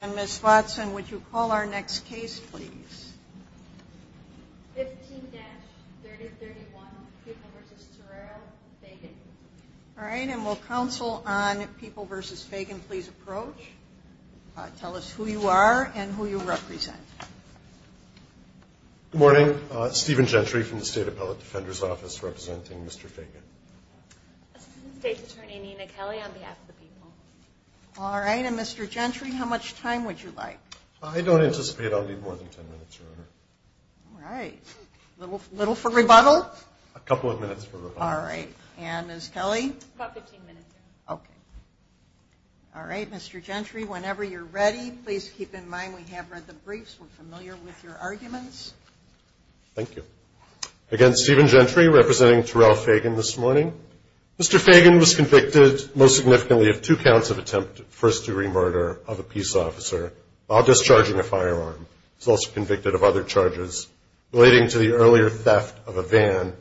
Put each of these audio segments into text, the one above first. And Ms. Watson, would you call our next case, please? 15-3031, People v. Torero v. Phagan All right, and will counsel on People v. Phagan please approach? Tell us who you are and who you represent. Good morning, Stephen Gentry from the State Appellate Defender's Office representing Mr. Phagan. Assistant State Attorney Nina Kelly on behalf of the people. All right, and Mr. Gentry, how much time would you like? I don't anticipate I'll need more than 10 minutes, Your Honor. All right, little for rebuttal? A couple of minutes for rebuttal. All right, and Ms. Kelly? About 15 minutes, Your Honor. Okay. All right, Mr. Gentry, whenever you're ready, please keep in mind we have read the briefs. We're familiar with your arguments. Thank you. Again, Stephen Gentry representing Torero-Phagan this morning. Mr. Phagan was convicted most significantly of two counts of attempted first-degree murder of a peace officer while discharging a firearm. He's also convicted of other charges relating to the earlier theft of a van.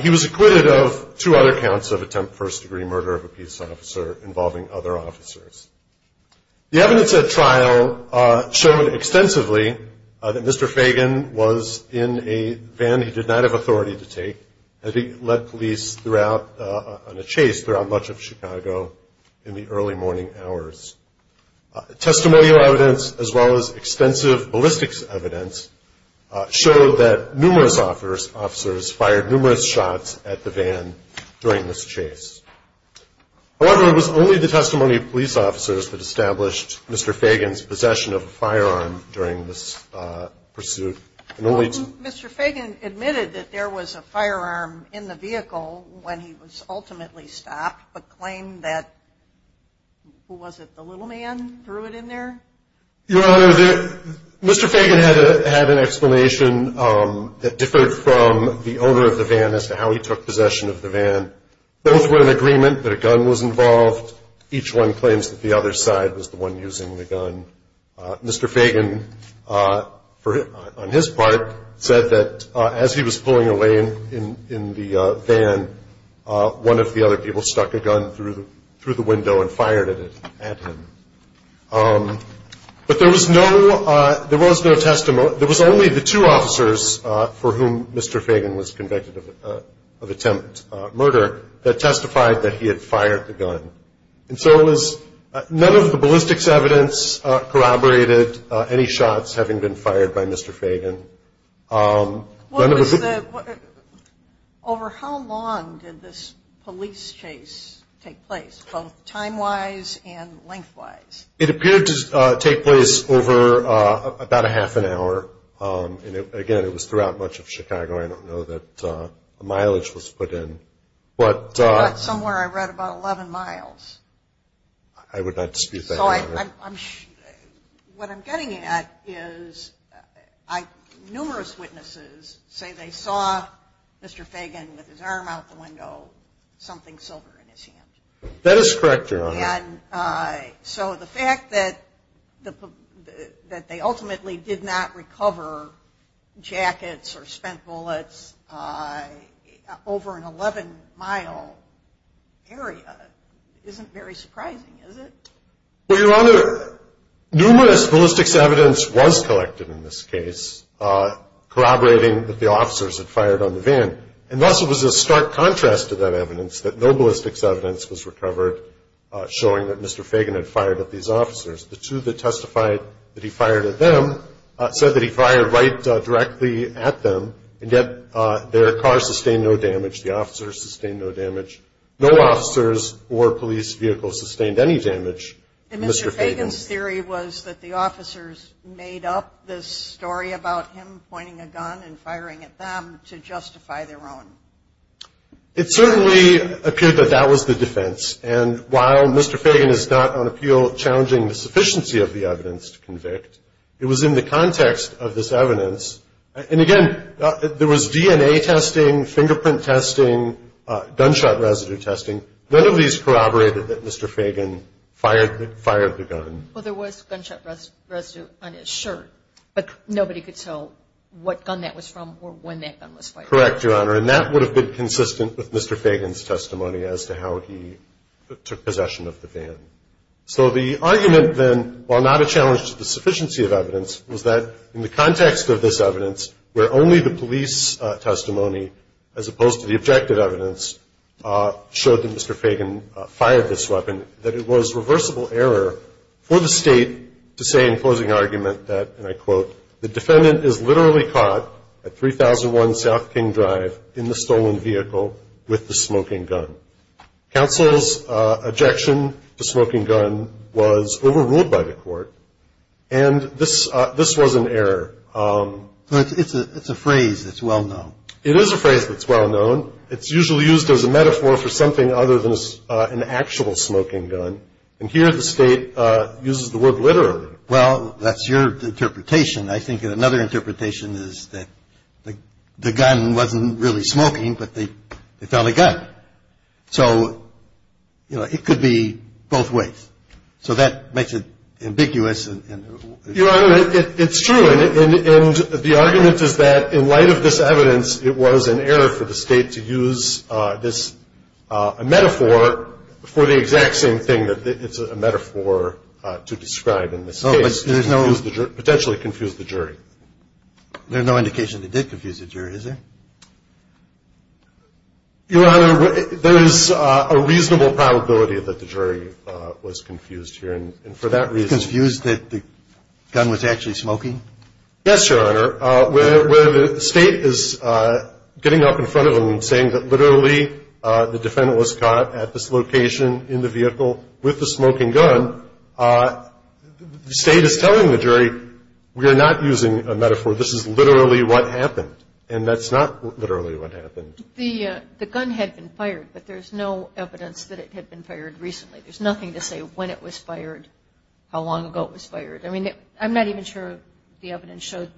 He was acquitted of two other counts of attempt first-degree murder of a peace officer involving other officers. The evidence at trial showed extensively that Mr. Phagan was in a van he did not have authority to take. And he led police on a chase throughout much of Chicago in the early morning hours. Testimonial evidence, as well as extensive ballistics evidence, showed that numerous officers fired numerous shots at the van during this chase. However, it was only the testimony of police officers that established Mr. Phagan's possession of a firearm during this pursuit. Mr. Phagan admitted that there was a firearm in the vehicle when he was ultimately stopped, but claimed that, who was it, the little man threw it in there? Your Honor, Mr. Phagan had an explanation that differed from the owner of the van as to how he took possession of the van. Both were in agreement that a gun was involved. Each one claims that the other side was the one using the gun. Mr. Phagan, on his part, said that as he was pulling away in the van, one of the other people stuck a gun through the window and fired at him. But there was no, there was no testimony, there was only the two officers for whom Mr. Phagan was convicted of attempt murder that testified that he had fired the gun. And so it was, none of the ballistics evidence corroborated any shots having been fired by Mr. Phagan. None of the... Over how long did this police chase take place, both time-wise and length-wise? It appeared to take place over about a half an hour. And again, it was throughout much of Chicago, I don't know that the mileage was put in. But somewhere I read about 11 miles. I would not dispute that. What I'm getting at is numerous witnesses say they saw Mr. Phagan with his arm out the window, something silver in his hand. That is correct, Your Honor. So the fact that they ultimately did not recover jackets or spent bullets over an 11-mile area isn't very surprising, is it? Well, Your Honor, numerous ballistics evidence was collected in this case, corroborating that the officers had fired on the van. And thus it was a stark contrast to that evidence that no ballistics evidence was recovered showing that Mr. Phagan had fired at these officers. The two that testified that he fired at them said that he fired right directly at them. And yet their car sustained no damage. The officers sustained no damage. No officers or police vehicles sustained any damage. And Mr. Phagan's theory was that the officers made up this story about him pointing a gun and firing at them to justify their own. It certainly appeared that that was the defense. And while Mr. Phagan is not on appeal challenging the sufficiency of the evidence to convict, it was in the context of this evidence. And again, there was DNA testing, fingerprint testing, gunshot residue testing. None of these corroborated that Mr. Phagan fired the gun. Well, there was gunshot residue on his shirt. But nobody could tell what gun that was from or when that gun was fired. Correct, Your Honor. And that would have been consistent with Mr. Phagan's testimony as to how he took possession of the van. So the argument then, while not a challenge to the sufficiency of evidence, was that in the context of this evidence, where only the police testimony, as opposed to the objective evidence, showed that Mr. Phagan fired this weapon, that it was reversible error for the state to say in closing argument that, and I quote, the defendant is literally caught at 3001 South King Drive in the stolen vehicle with the smoking gun. Counsel's objection to smoking gun was overruled by the court. And this was an error. It's a phrase that's well known. It is a phrase that's well known. It's usually used as a metaphor for something other than an actual smoking gun. And here the state uses the word literally. Well, that's your interpretation. I think another interpretation is that the gun wasn't really smoking, but they found a gun. So it could be both ways. So that makes it ambiguous. Your Honor, it's true, and the argument is that, in light of this evidence, it was an error for the state to use this metaphor for the exact same thing that it's a metaphor to describe in this case. To potentially confuse the jury. There's no indication they did confuse the jury, is there? Your Honor, there is a reasonable probability that the jury was confused here. And for that reason- Confused that the gun was actually smoking? Yes, Your Honor. Where the state is getting up in front of them and saying that literally, the defendant was caught at this location in the vehicle with the smoking gun. The state is telling the jury, we are not using a metaphor. This is literally what happened. And that's not literally what happened. The gun had been fired, but there's no evidence that it had been fired recently. There's nothing to say when it was fired, how long ago it was fired. I mean, I'm not even sure the evidence showed.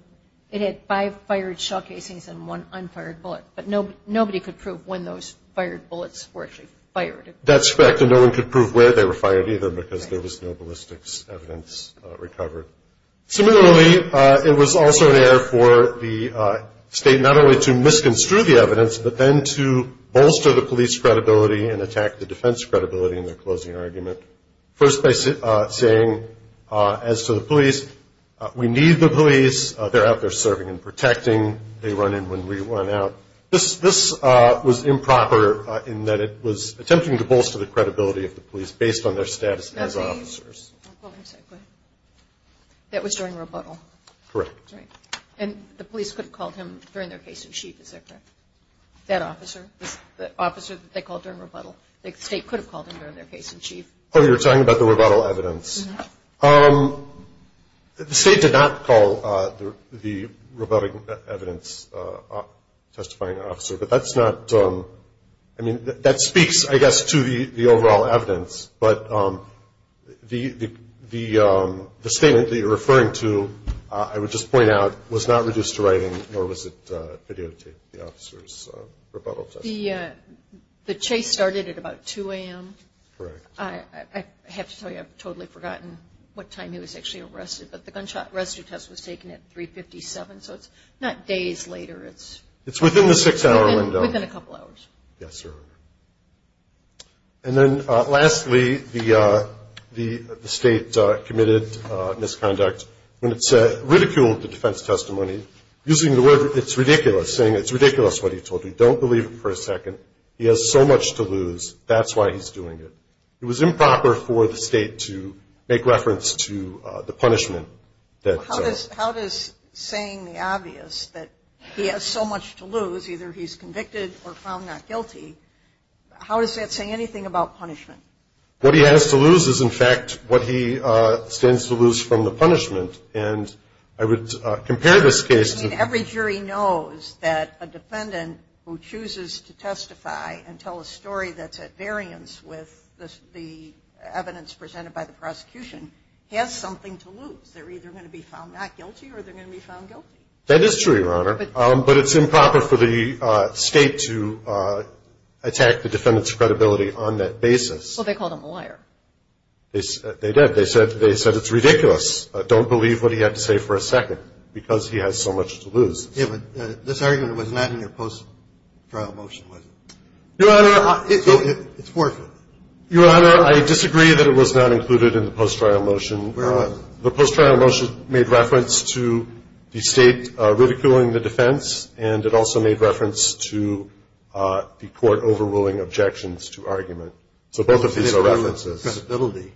It had five fired shot casings and one unfired bullet. But nobody could prove when those fired bullets were actually fired. That's correct, and no one could prove where they were fired either, because there was no ballistics evidence recovered. Similarly, it was also an error for the state not only to misconstrue the evidence, but then to bolster the police credibility and attack the defense credibility in their closing argument. First by saying, as to the police, we need the police. They're out there serving and protecting. They run in when we run out. This was improper in that it was attempting to bolster the credibility of the police based on their status as officers. Well, let me say it quick. That was during rebuttal. Correct. And the police could have called him during their case in chief, is that correct? That officer, the officer that they called during rebuttal. The state could have called him during their case in chief. You're talking about the rebuttal evidence. Mm-hm. The state did not call the rebuttal evidence testifying officer, but that's not, I mean, that speaks, I guess, to the overall evidence. But the statement that you're referring to, I would just point out, was not reduced to writing, nor was it videotaped, the officer's rebuttal test. The chase started at about 2 AM. Correct. I have to tell you, I've totally forgotten what time he was actually arrested. But the gunshot rescue test was taken at 3 57, so it's not days later, it's- It's within the six hour window. Within a couple hours. Yes, sir. And then, lastly, the state committed misconduct. When it said, ridiculed the defense testimony, using the word, it's ridiculous, saying it's ridiculous what he told you, don't believe it for a second. He has so much to lose, that's why he's doing it. It was improper for the state to make reference to the punishment that- How does saying the obvious, that he has so much to lose, either he's convicted or found not guilty, how does that say anything about punishment? What he has to lose is, in fact, what he stands to lose from the punishment. And I would compare this case to- Every jury knows that a defendant who chooses to testify and tell a story that's at variance with the evidence presented by the prosecution, has something to lose. They're either going to be found not guilty or they're going to be found guilty. That is true, Your Honor. But it's improper for the state to attack the defendant's credibility on that basis. Well, they called him a liar. They did. They said it's ridiculous. Don't believe what he had to say for a second, because he has so much to lose. Yeah, but this argument was not in your post-trial motion, was it? Your Honor- It's forfeit. Your Honor, I disagree that it was not included in the post-trial motion. Where was it? The post-trial motion made reference to the state ridiculing the defense, and it also made reference to the court overruling objections to argument. So both of these are references. Credibility,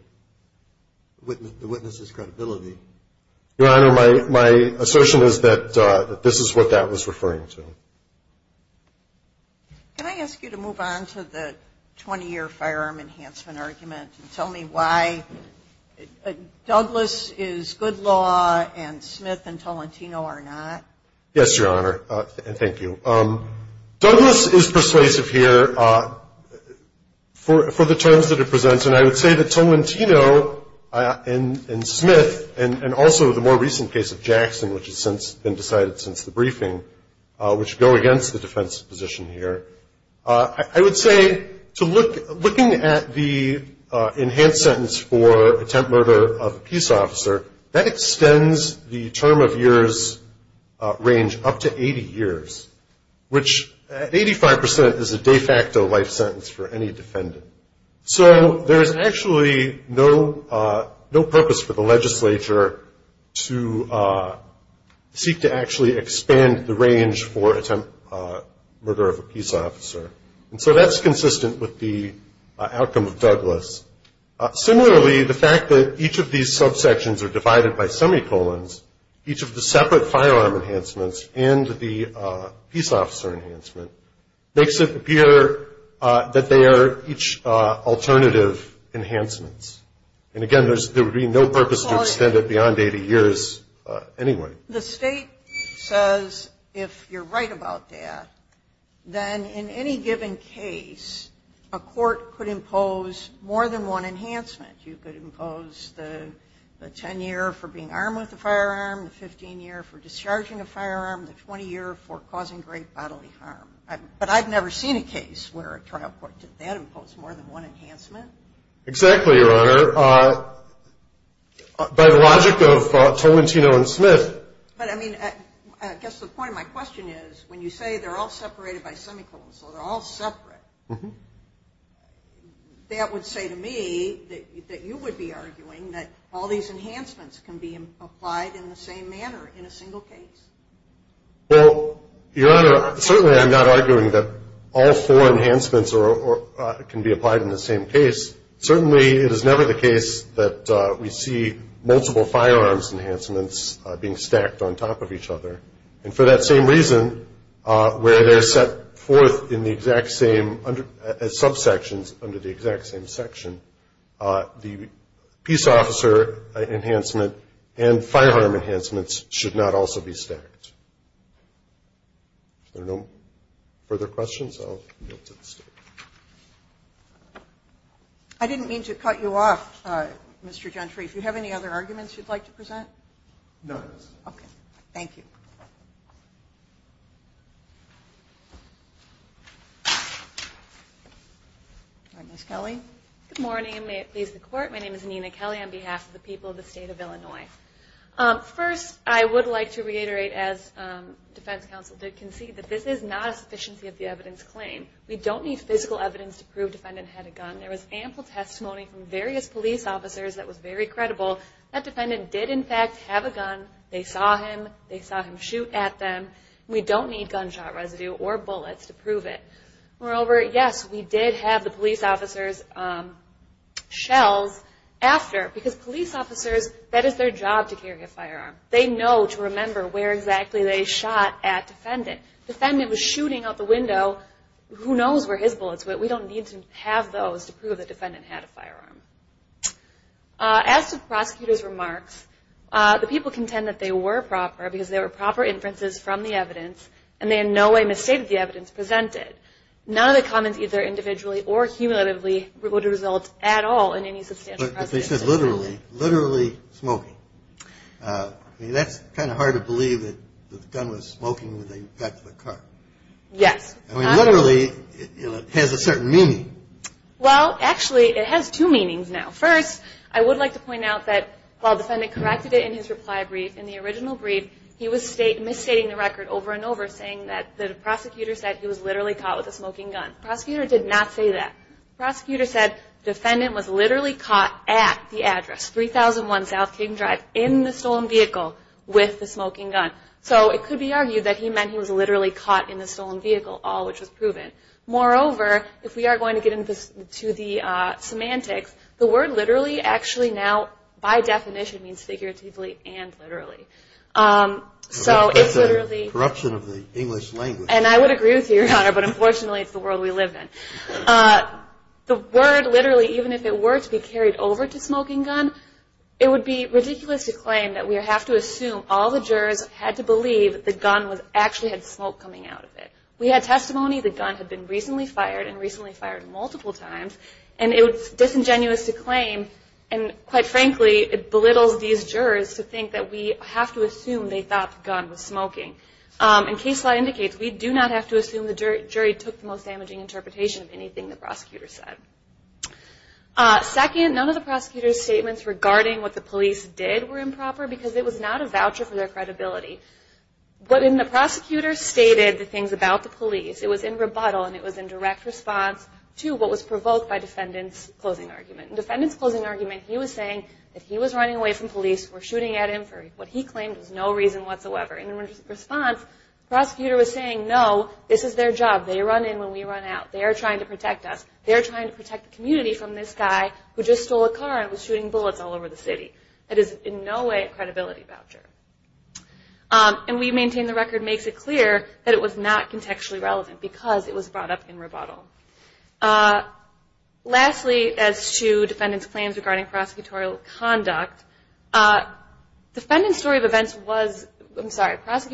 the witness's credibility. Your Honor, my assertion is that this is what that was referring to. Can I ask you to move on to the 20-year firearm enhancement argument and tell me why Douglas is good law and Smith and Tolentino are not? Yes, Your Honor, and thank you. Douglas is persuasive here for the terms that it presents. And I would say that Tolentino and Smith, and also the more recent case of Jackson, which has since been decided since the briefing, which go against the defense's position here. I would say, looking at the enhanced sentence for attempt murder of a peace officer, that extends the term of years range up to 80 years, which at 85% is a de facto life sentence for any defendant. So there's actually no purpose for the legislature to seek to actually expand the range for attempt murder of a peace officer, and so that's consistent with the outcome of Douglas. Similarly, the fact that each of these subsections are divided by semicolons, each of the separate firearm enhancements and the peace officer enhancement makes it appear that they are each alternative enhancements. And again, there would be no purpose to extend it beyond 80 years anyway. The state says, if you're right about that, then in any given case, a court could impose more than one enhancement. You could impose the 10 year for being armed with a firearm, the 15 year for discharging a firearm, the 20 year for causing great bodily harm. But I've never seen a case where a trial court did that, impose more than one enhancement. Exactly, Your Honor, by the logic of Tolentino and Smith. But I mean, I guess the point of my question is, when you say they're all separated by semicolons, so they're all separate. That would say to me that you would be arguing that all these enhancements can be applied in the same manner in a single case. Well, Your Honor, certainly I'm not arguing that all four enhancements can be applied in the same case. Certainly, it is never the case that we see multiple firearms enhancements being stacked on top of each other. And for that same reason, where they're set forth in the exact same subsections under the exact same section, the peace officer enhancement and firearm enhancements should not also be stacked. If there are no further questions, I'll yield to the state. I didn't mean to cut you off, Mr. Gentry. If you have any other arguments you'd like to present? No. Okay. Thank you. All right, Ms. Kelly. Good morning, and may it please the court. My name is Nina Kelly on behalf of the people of the state of Illinois. First, I would like to reiterate, as defense counsel did concede, that this is not a sufficiency of the evidence claim. We don't need physical evidence to prove defendant had a gun. There was ample testimony from various police officers that was very credible. That defendant did, in fact, have a gun. They saw him. They saw him shoot at them. We don't need gunshot residue or bullets to prove it. Moreover, yes, we did have the police officer's shells after, because police officers, that is their job to carry a firearm. They know to remember where exactly they shot at defendant. Defendant was shooting out the window. Who knows where his bullets went? We don't need to have those to prove the defendant had a firearm. As to the prosecutor's remarks, the people contend that they were proper, because they were proper inferences from the evidence, and they in no way misstated the evidence presented. None of the comments, either individually or cumulatively, would result at all in any substantial precedent. But if they said literally, literally smoking, that's kind of hard to believe that the gun was smoking when they got to the car. Yes. I mean, literally, it has a certain meaning. Well, actually, it has two meanings now. First, I would like to point out that while defendant corrected it in his reply brief, in the original brief, he was misstating the record over and over, saying that the prosecutor said he was literally caught with a smoking gun. Prosecutor did not say that. Prosecutor said defendant was literally caught at the address, 3001 South King Drive, in the stolen vehicle with the smoking gun. So it could be argued that he meant he was literally caught in the stolen vehicle, all which was proven. Moreover, if we are going to get into the semantics, the word literally actually now, by definition, means figuratively and literally. So it's literally- Corruption of the English language. And I would agree with you, Your Honor, but unfortunately, it's the world we live in. The word literally, even if it were to be carried over to smoking gun, it would be ridiculous to claim that we have to assume all the jurors had to believe the gun actually had smoke coming out of it. We had testimony the gun had been recently fired and recently fired multiple times, and it was disingenuous to claim. And quite frankly, it belittles these jurors to think that we have to assume they thought the gun was smoking. And case law indicates we do not have to assume the jury took the most damaging interpretation of anything the prosecutor said. Second, none of the prosecutor's statements regarding what the police did were improper because it was not a voucher for their credibility. But when the prosecutor stated the things about the police, it was in rebuttal and it was in direct response to what was provoked by defendant's closing argument. In defendant's closing argument, he was saying that he was running away from police who were shooting at him for what he claimed was no reason whatsoever. And in response, the prosecutor was saying, no, this is their job. They run in when we run out. They are trying to protect us. They are trying to protect the community from this guy who just stole a car and was shooting bullets all over the city. That is in no way a credibility voucher. And we maintain the record makes it clear that it was not contextually relevant because it was brought up in rebuttal. Lastly, as to defendant's claims regarding prosecutorial conduct, defendant's story of events was, I'm sorry, defendant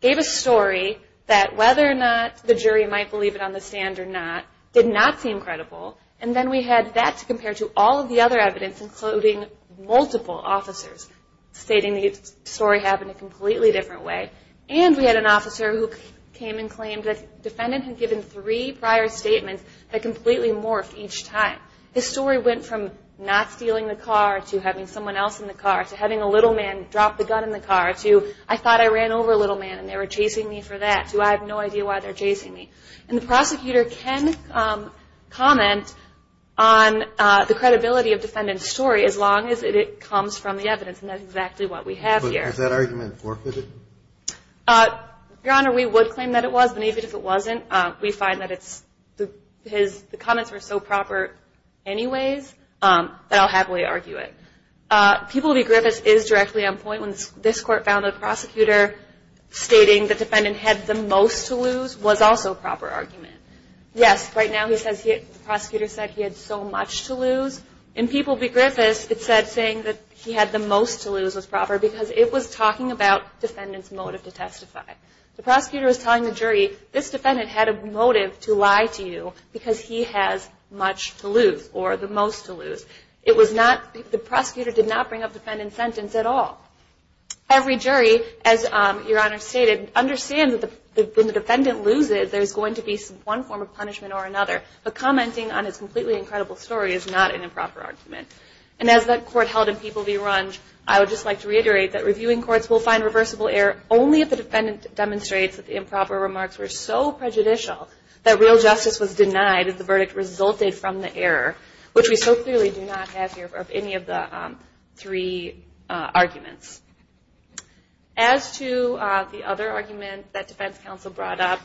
gave a story that whether or not the jury might believe it on the stand or not, did not seem credible. And then we had that to compare to all of the other evidence, including multiple officers, stating the story happened a completely different way. And we had an officer who came and claimed that defendant had given three prior statements that completely morphed each time. The story went from not stealing the car, to having someone else in the car, to having a little man drop the gun in the car, to I thought I ran over a little man and they were chasing me for that, to I have no idea why they're chasing me. And the prosecutor can comment on the credibility of defendant's story, as long as it comes from the evidence, and that's exactly what we have here. But does that argument forfeit it? Your Honor, we would claim that it was, but even if it wasn't, we find that the comments were so proper anyways, that I'll happily argue it. People v Griffiths is directly on point when this court found the prosecutor stating the defendant had the most to lose was also a proper argument. Yes, right now the prosecutor said he had so much to lose. In People v Griffiths, it said saying that he had the most to lose was proper, because it was talking about defendant's motive to testify. The prosecutor was telling the jury, this defendant had a motive to lie to you, because he has much to lose, or the most to lose. It was not, the prosecutor did not bring up the defendant's sentence at all. Every jury, as Your Honor stated, understands that when the defendant loses, there's going to be one form of punishment or another. But commenting on his completely incredible story is not an improper argument. And as that court held in People v Runge, I would just like to reiterate that reviewing courts will find reversible error only if the defendant demonstrates that the verdict resulted from the error, which we so clearly do not have here of any of the three arguments. As to the other argument that defense counsel brought up,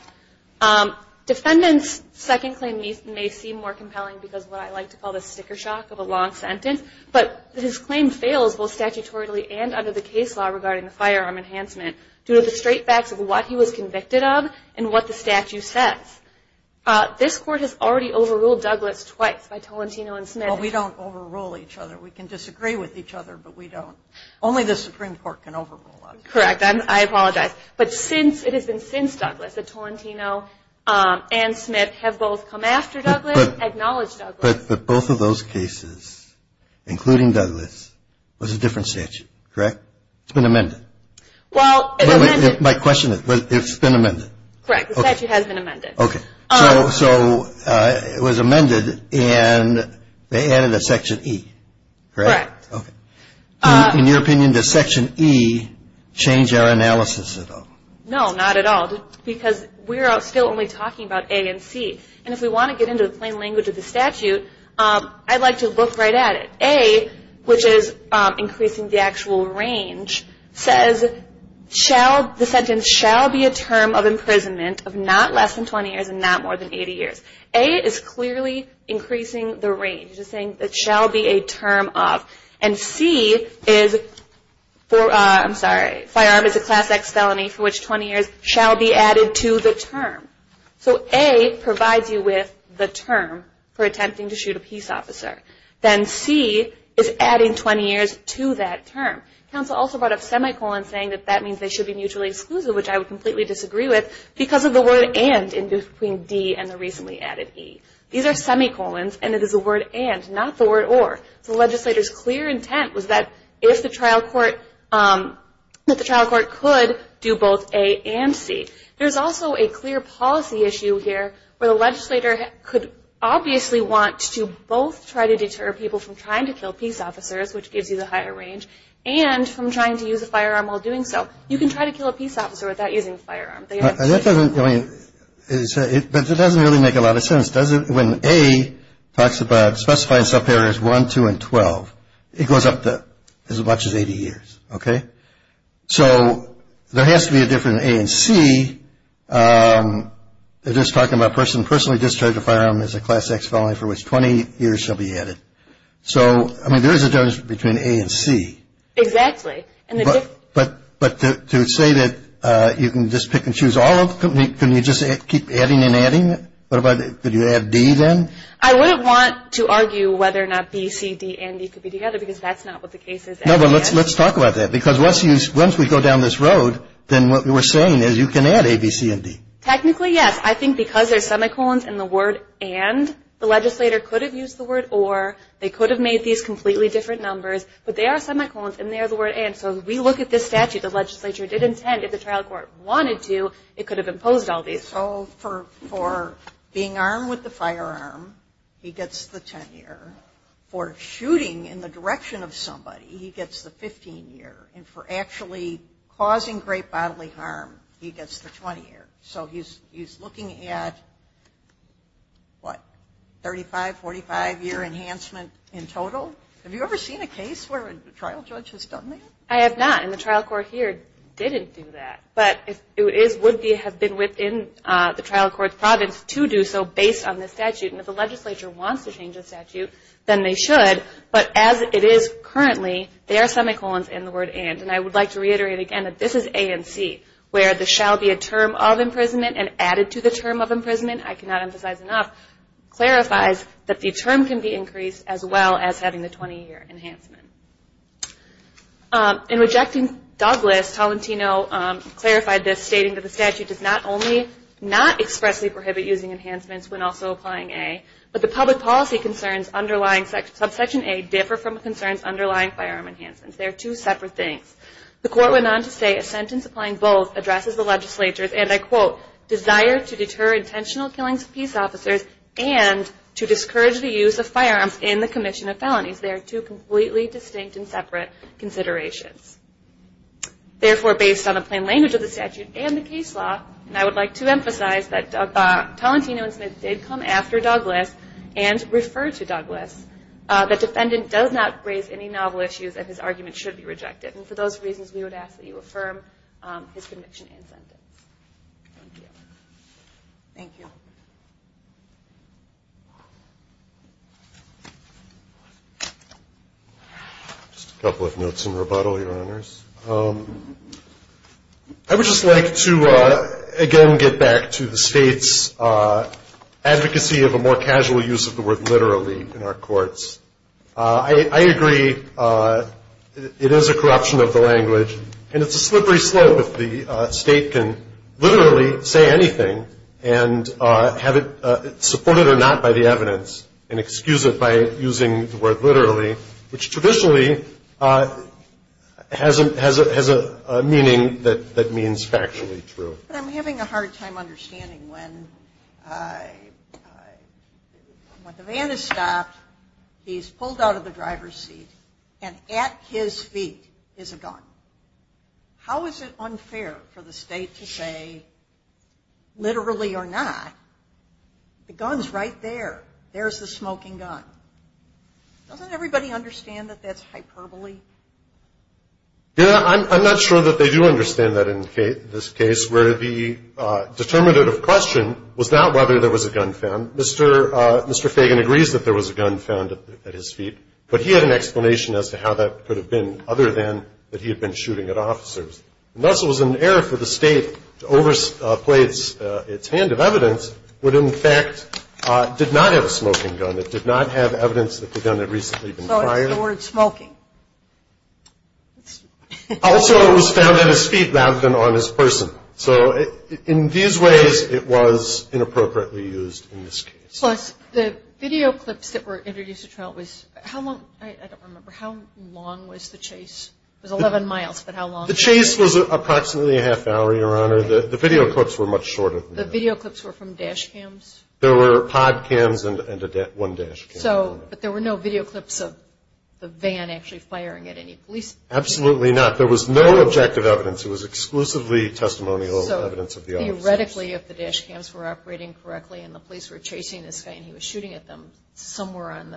defendant's second claim may seem more compelling because of what I like to call the sticker shock of a long sentence. But his claim fails both statutorily and under the case law regarding the firearm enhancement, due to the straight facts of what he was convicted of and what the statute says. This court has already overruled Douglas twice by Tolentino and Smith. Well, we don't overrule each other. We can disagree with each other, but we don't. Only the Supreme Court can overrule us. Correct, I apologize. But since, it has been since Douglas that Tolentino and Smith have both come after Douglas, acknowledged Douglas. But both of those cases, including Douglas, was a different statute, correct? It's been amended. Well, it's amended. My question is, it's been amended. Correct, the statute has been amended. So, it was amended, and they added a section E, correct? Correct. Okay, in your opinion, does section E change our analysis at all? No, not at all, because we're still only talking about A and C. And if we want to get into the plain language of the statute, I'd like to look right at it. A, which is increasing the actual range, says, the sentence shall be a term of imprisonment of not less than 20 years, and not more than 80 years. A is clearly increasing the range, just saying it shall be a term of. And C is, I'm sorry, firearm is a class X felony for which 20 years shall be added to the term. So A provides you with the term for attempting to shoot a peace officer. Then C is adding 20 years to that term. Council also brought up semicolons, saying that that means they should be mutually exclusive, which I would completely disagree with, because of the word and in between D and the recently added E. These are semicolons, and it is the word and, not the word or. So the legislator's clear intent was that if the trial court could do both A and C. There's also a clear policy issue here, where the legislator could obviously want to both try to deter people from trying to kill peace officers, which gives you the higher range, and from trying to use a firearm while doing so. You can try to kill a peace officer without using a firearm. That doesn't, I mean, it doesn't really make a lot of sense, does it? When A talks about specifying self-hare as 1, 2, and 12. It goes up to as much as 80 years, okay? So there has to be a difference in A and C. They're just talking about a person personally discharged a firearm as a class X felony for which 20 years shall be added. So, I mean, there is a difference between A and C. Exactly. But to say that you can just pick and choose all of them, can you just keep adding and adding? What about, could you add D then? I wouldn't want to argue whether or not B, C, D, and E could be together, because that's not what the case is. No, but let's talk about that. Because once we go down this road, then what we're saying is you can add A, B, C, and D. Technically, yes. I think because there's semicolons in the word and, the legislator could have used the word or, they could have made these completely different numbers. But they are semicolons, and they are the word and. So if we look at this statute, the legislature did intend, if the trial court wanted to, it could have imposed all these. So for being armed with the firearm, he gets the 10 year. For shooting in the direction of somebody, he gets the 15 year. And for actually causing great bodily harm, he gets the 20 year. So he's looking at, what, 35, 45 year enhancement in total? Have you ever seen a case where a trial judge has done that? I have not, and the trial court here didn't do that. But it would have been within the trial court's province to do so based on this statute. And if the legislature wants to change the statute, then they should. But as it is currently, there are semicolons in the word and. And I would like to reiterate again that this is A and C, where the shall be a term of imprisonment and added to the term of imprisonment, I cannot emphasize enough, clarifies that the term can be increased as well as having the 20 year enhancement. In rejecting Douglas, Tolentino clarified this, stating that the statute does not only not expressly prohibit using enhancements when also applying A, but the public policy concerns underlying subsection A differ from the concerns underlying firearm enhancements. They are two separate things. The court went on to say, a sentence applying both addresses the legislature's, and I quote, desire to deter intentional killings of peace officers and to discourage the use of firearms in the commission of felonies. They are two completely distinct and separate considerations. Therefore, based on the plain language of the statute and the case law, and I would like to emphasize that Tolentino and Smith did come after Douglas and refer to Douglas, the defendant does not raise any novel issues and his argument should be rejected. And for those reasons, we would ask that you affirm his conviction and sentence. Thank you. Thank you. Just a couple of notes in rebuttal, your honors. I would just like to, again, get back to the state's advocacy of a more casual use of the word literally in our courts. I agree it is a corruption of the language and it's a slippery slope if the state can literally say anything and have it supported or not by the evidence and excuse it by using the word literally, which traditionally has a meaning that means factually true. But I'm having a hard time understanding when the van is stopped, he's pulled out of the driver's seat, and at his feet is a gun. How is it unfair for the state to say literally or not, the gun's right there. There's the smoking gun. Doesn't everybody understand that that's hyperbole? Yeah, I'm not sure that they do understand that in this case, where the determinative question was not whether there was a gun found. Mr. Fagan agrees that there was a gun found at his feet, but he had an explanation as to how that could have been other than that he had been shooting at officers. And thus, it was an error for the state to overplay its hand of evidence, would in fact did not have a smoking gun. It did not have evidence that the gun had recently been fired. So it's the word smoking. Also, it was found at his feet rather than on his person. So in these ways, it was inappropriately used in this case. Plus, the video clips that were introduced to trial was, how long, I don't remember, how long was the chase? It was 11 miles, but how long? The chase was approximately a half hour, Your Honor. The video clips were much shorter. The video clips were from dash cams? There were pod cams and one dash cam. But there were no video clips of the van actually firing at any police? Absolutely not. There was no objective evidence. It was exclusively testimonial evidence of the officers. Theoretically, if the dash cams were operating correctly and the police were chasing this guy and he was shooting at them, somewhere on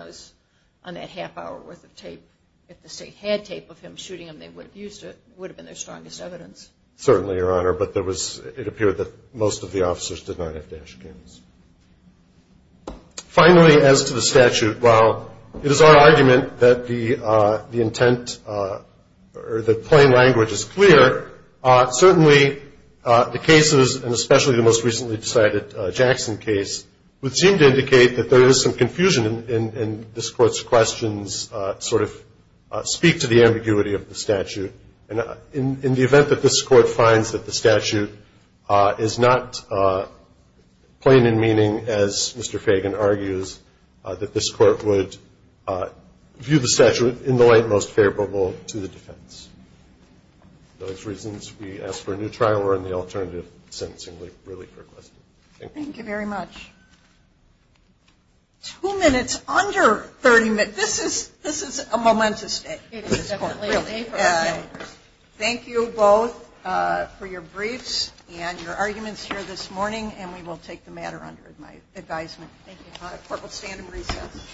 that half hour worth of tape. If the state had tape of him shooting him, they would have used it, would have been their strongest evidence. Certainly, Your Honor. But it appeared that most of the officers did not have dash cams. Finally, as to the statute, while it is our argument that the intent, or the plain language is clear, certainly the cases, and especially the most recently decided Jackson case, would seem to indicate that there is some confusion in this court's questions, And in the event that this court finds that the statute is not plain in meaning, as Mr. Fagan argues, that this court would view the statute in the light most favorable to the defense. Those reasons we ask for a new trial, or in the alternative, sentencing would really be requested. Thank you. Thank you very much. Two minutes under 30 minutes. This is a momentous day. Thank you both for your briefs and your arguments here this morning. And we will take the matter under my advisement. Thank you. Court will stand in recess.